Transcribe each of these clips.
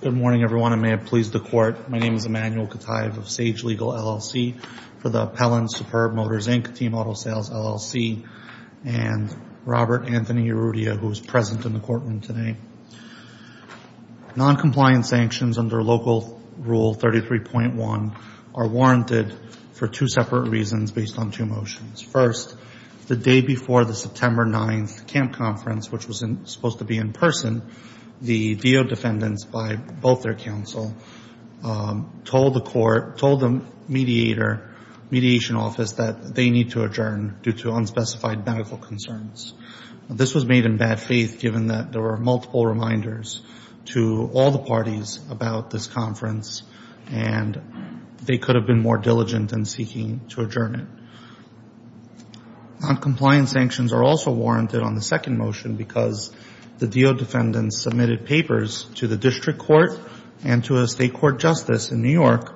Good morning everyone, I may have pleased the court. My name is Emanuel Kative of Sage Legal, LLC for the Pellin Superb Motors Inc. Team Auto Sales, LLC, and Robert Anthony Arrudia, who is present in the courtroom today. Noncompliance sanctions under Local Rule 33.1 are warranted for two separate reasons based on two motions. First, the day before the September 9th camp conference, which was supposed to be in person, the Deo defendants by both their counsel told the court, told the mediator, mediation office that they need to adjourn due to unspecified medical concerns. This was made in bad faith given that there were multiple reminders to all the parties about this conference and they could have been more diligent in seeking to adjourn it. Noncompliance sanctions are also warranted on the second motion because the Deo defendants submitted papers to the district court and to a state court justice in New York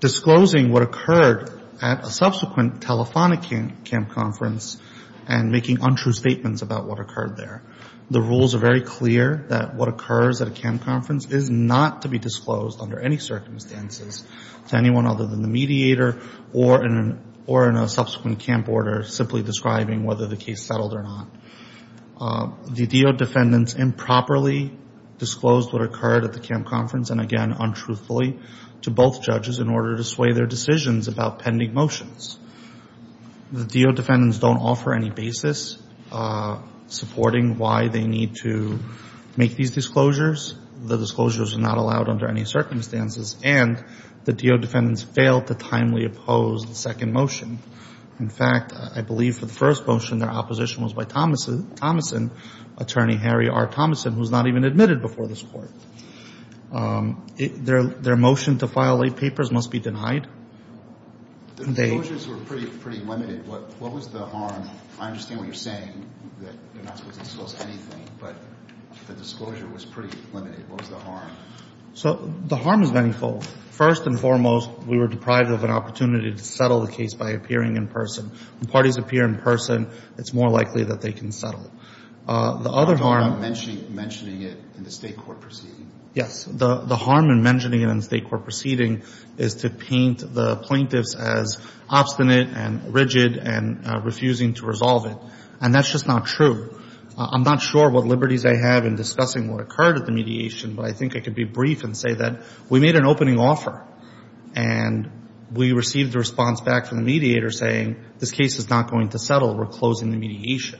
disclosing what occurred at a subsequent telephonic camp conference and making untrue statements about what occurred there. The rules are very clear that what occurs at a camp conference is not to be disclosed under any circumstances to anyone other than the mediator or in a subsequent camp order simply describing whether the case settled or not. The Deo defendants improperly disclosed what occurred at the camp conference and again untruthfully to both judges in order to sway their decisions about pending motions. The Deo defendants don't offer any basis supporting why they need to make these disclosures. The disclosures are not allowed under any circumstances and the Deo defendants fail to timely oppose the second motion. In fact, I believe for the first motion their opposition was by Thomason, Attorney Harry R. Thomason, who was not even admitted before this court. Their motion to file late papers must be denied. The disclosures were pretty limited. What was the harm? I understand what you're saying, that you're not supposed to disclose anything, but the disclosure was pretty limited. What was the harm? So the harm is many folds. First and foremost, we were deprived of an opportunity to settle the case by appearing in person. When parties appear in person, it's more likely that they can settle. The other harm. I'm talking about mentioning it in the state court proceeding. Yes, the harm in mentioning it in the state court proceeding is to paint the plaintiffs as obstinate and rigid and refusing to resolve it. And that's just not true. I'm not sure what liberties I have in discussing what occurred at the mediation, but I think I could be brief and say that we made an opening offer and we received a response back from the mediator saying this case is not going to settle. We're closing the mediation.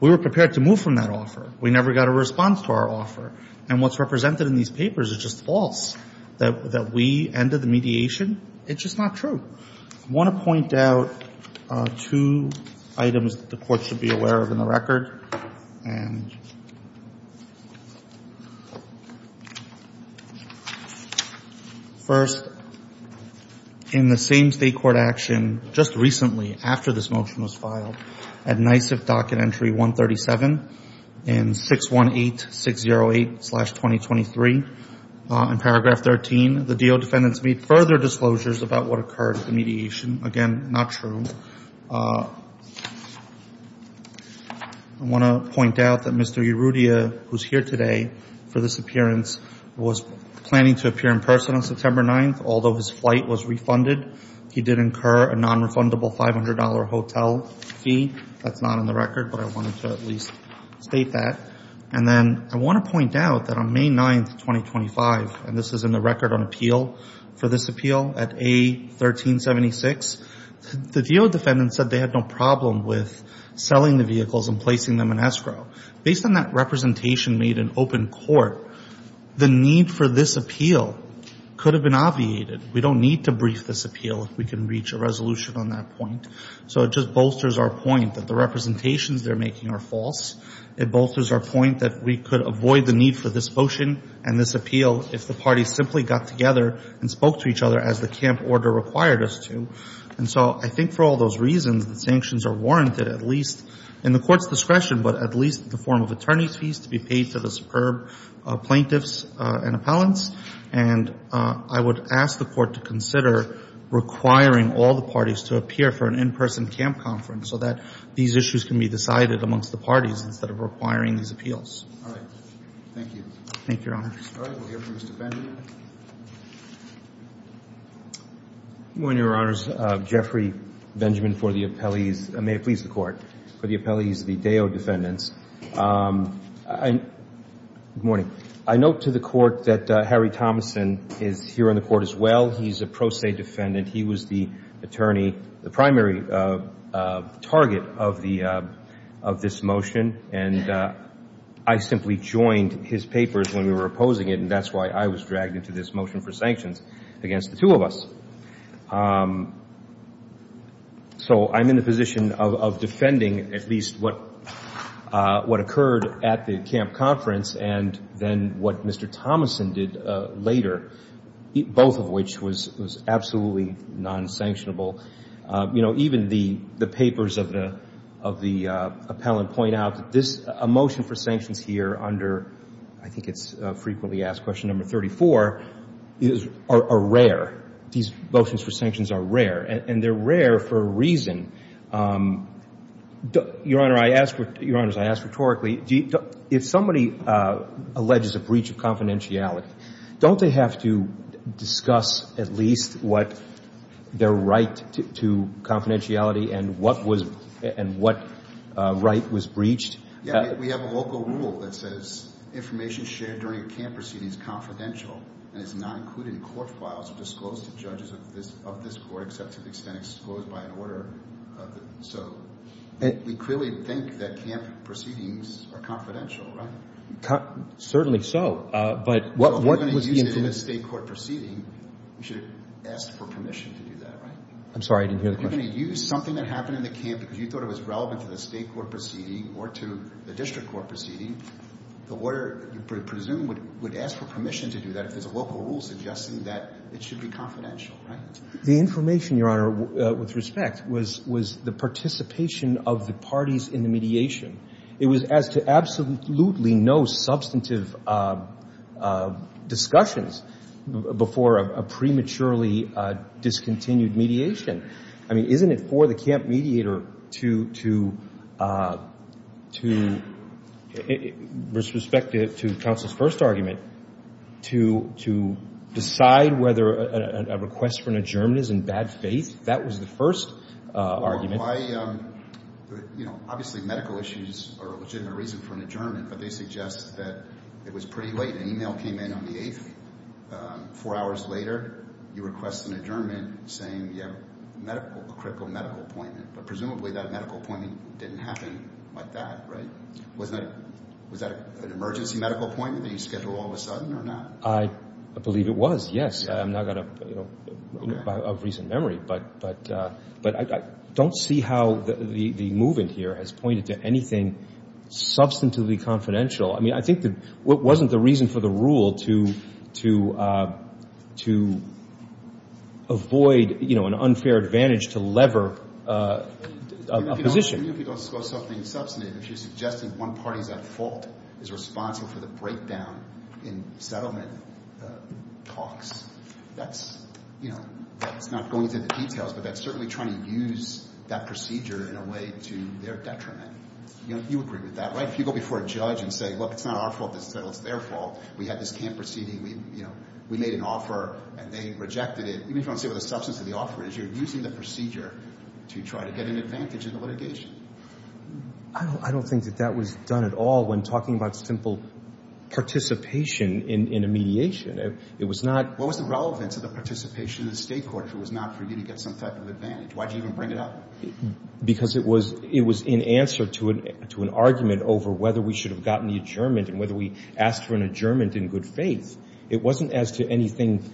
We were prepared to move from that offer. We never got a response to our offer. And what's represented in these papers is just false, that we ended the mediation. It's just not true. I want to point out two items that the court should be aware of in the record. First, in the same state court action, just recently after this motion was filed, at NYSIF docket entry 137 and 618608-2023, in paragraph 13, the DO defendants made further disclosures about what occurred at the mediation. Again, not true. I want to point out that Mr. Erudia, who's here today for this appearance, was planning to appear in person on September 9th. Although his flight was refunded, he did incur a non-refundable $500 hotel fee. That's not in the record, but I wanted to at least state that. And then I want to point out that on May 9th, 2025, and this is in the record on appeal for this appeal at A1376, the DO defendants said they had no problem with selling the vehicles and placing them in escrow. Based on that representation made in open court, the need for this appeal could have been obviated. We don't need to brief this appeal if we can reach a resolution on that point. So it just bolsters our point that the representations they're making are false. It bolsters our point that we could avoid the need for this motion and this appeal if the parties simply got together and spoke to each other as the camp order required us to. And so I think for all those reasons, the sanctions are warranted at least in the court's discretion, but at least in the form of attorney's fees to be paid to the superb plaintiffs and appellants. And I would ask the court to consider requiring all the parties to appear for an in-person camp conference so that these issues can be decided amongst the parties instead of requiring these appeals. All right. Thank you. Thank you, Your Honor. All right. We'll hear from Mr. Benjamin. Good morning, Your Honors. Jeffrey Benjamin for the appellees. May it please the court. For the appellees, the Deo defendants. Good morning. I note to the court that Harry Thomason is here on the court as well. He's a pro se defendant. He was the attorney, the primary target of this motion. And I simply joined his papers when we were opposing it, and that's why I was dragged into this motion for sanctions against the two of us. So I'm in the position of defending at least what occurred at the camp conference and then what Mr. Thomason did later, both of which was absolutely non-sanctionable. Even the papers of the appellant point out that a motion for sanctions here under, I think it's frequently asked question number 34, are rare. These motions for sanctions are rare, and they're rare for a reason. Your Honors, I ask rhetorically, if somebody alleges a breach of confidentiality, don't they have to discuss at least what their right to confidentiality and what right was breached? We have a local rule that says information shared during a camp proceeding is confidential and is not included in court files or disclosed to judges of this court, except to the extent it's disclosed by an order. So we clearly think that camp proceedings are confidential, right? Certainly so, but what was the information? So if you're going to use it in a state court proceeding, you should ask for permission to do that, right? I'm sorry, I didn't hear the question. If you're going to use something that happened in the camp because you thought it was relevant to the state court proceeding or to the district court proceeding, the lawyer, you presume, would ask for permission to do that if there's a local rule suggesting that it should be confidential, right? The information, Your Honor, with respect, was the participation of the parties in the mediation. It was as to absolutely no substantive discussions before a prematurely discontinued mediation. I mean, isn't it for the camp mediator to, with respect to counsel's first argument, to decide whether a request for an adjournment is in bad faith? That was the first argument. Why, you know, obviously medical issues are a legitimate reason for an adjournment, but they suggest that it was pretty late. An email came in on the 8th, four hours later, you request an adjournment saying you have a critical medical appointment, but presumably that medical appointment didn't happen like that, right? Was that an emergency medical appointment that you scheduled all of a sudden or not? I believe it was, yes. I'm not going to, you know, of recent memory, but I don't see how the movement here has pointed to anything substantively confidential. I mean, I think that wasn't the reason for the rule to avoid, you know, an unfair advantage to lever a position. Even if you don't disclose something substantive, if you're suggesting one party's at fault, is responsible for the breakdown in settlement talks, that's, you know, that's not going into the details, but that's certainly trying to use that procedure in a way to their detriment. You know, you agree with that, right? If you go before a judge and say, look, it's not our fault, it's their fault. We had this camp proceeding. We, you know, we made an offer and they rejected it. Even if you don't say what the substance of the offer is, you're using the procedure to try to get an advantage in the litigation. I don't think that that was done at all when talking about simple participation in a mediation. It was not. What was the relevance of the participation in the state court if it was not for you to get some type of advantage? Why did you even bring it up? Because it was in answer to an argument over whether we should have gotten the adjournment and whether we asked for an adjournment in good faith. It wasn't as to anything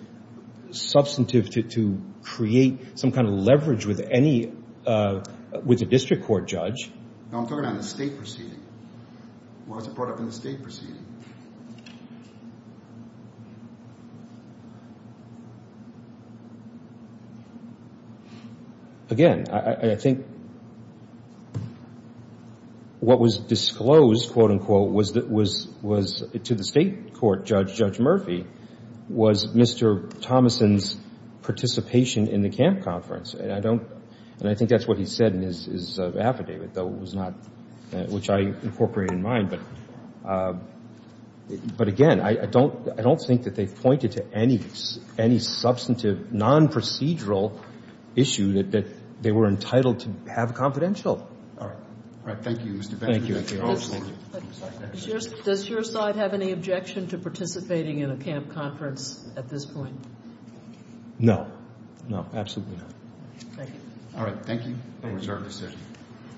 substantive to create some kind of leverage with any, with a district court judge. No, I'm talking about the state proceeding. What was it brought up in the state proceeding? Again, I think what was disclosed, quote, unquote, was to the state court judge, Judge Murphy, was Mr. Thomason's participation in the camp conference. And I don't, and I think that's what he said in his affidavit, though, it was not, which I incorporated in mind. But again, I don't think that they've pointed to any substantive non-procedural issue that they were entitled to have a confidential. All right. Thank you, Mr. Benjamin. Thank you. Does your side have any objection to participating in a camp conference at this point? No. No, absolutely not. Thank you. All right. Thank you.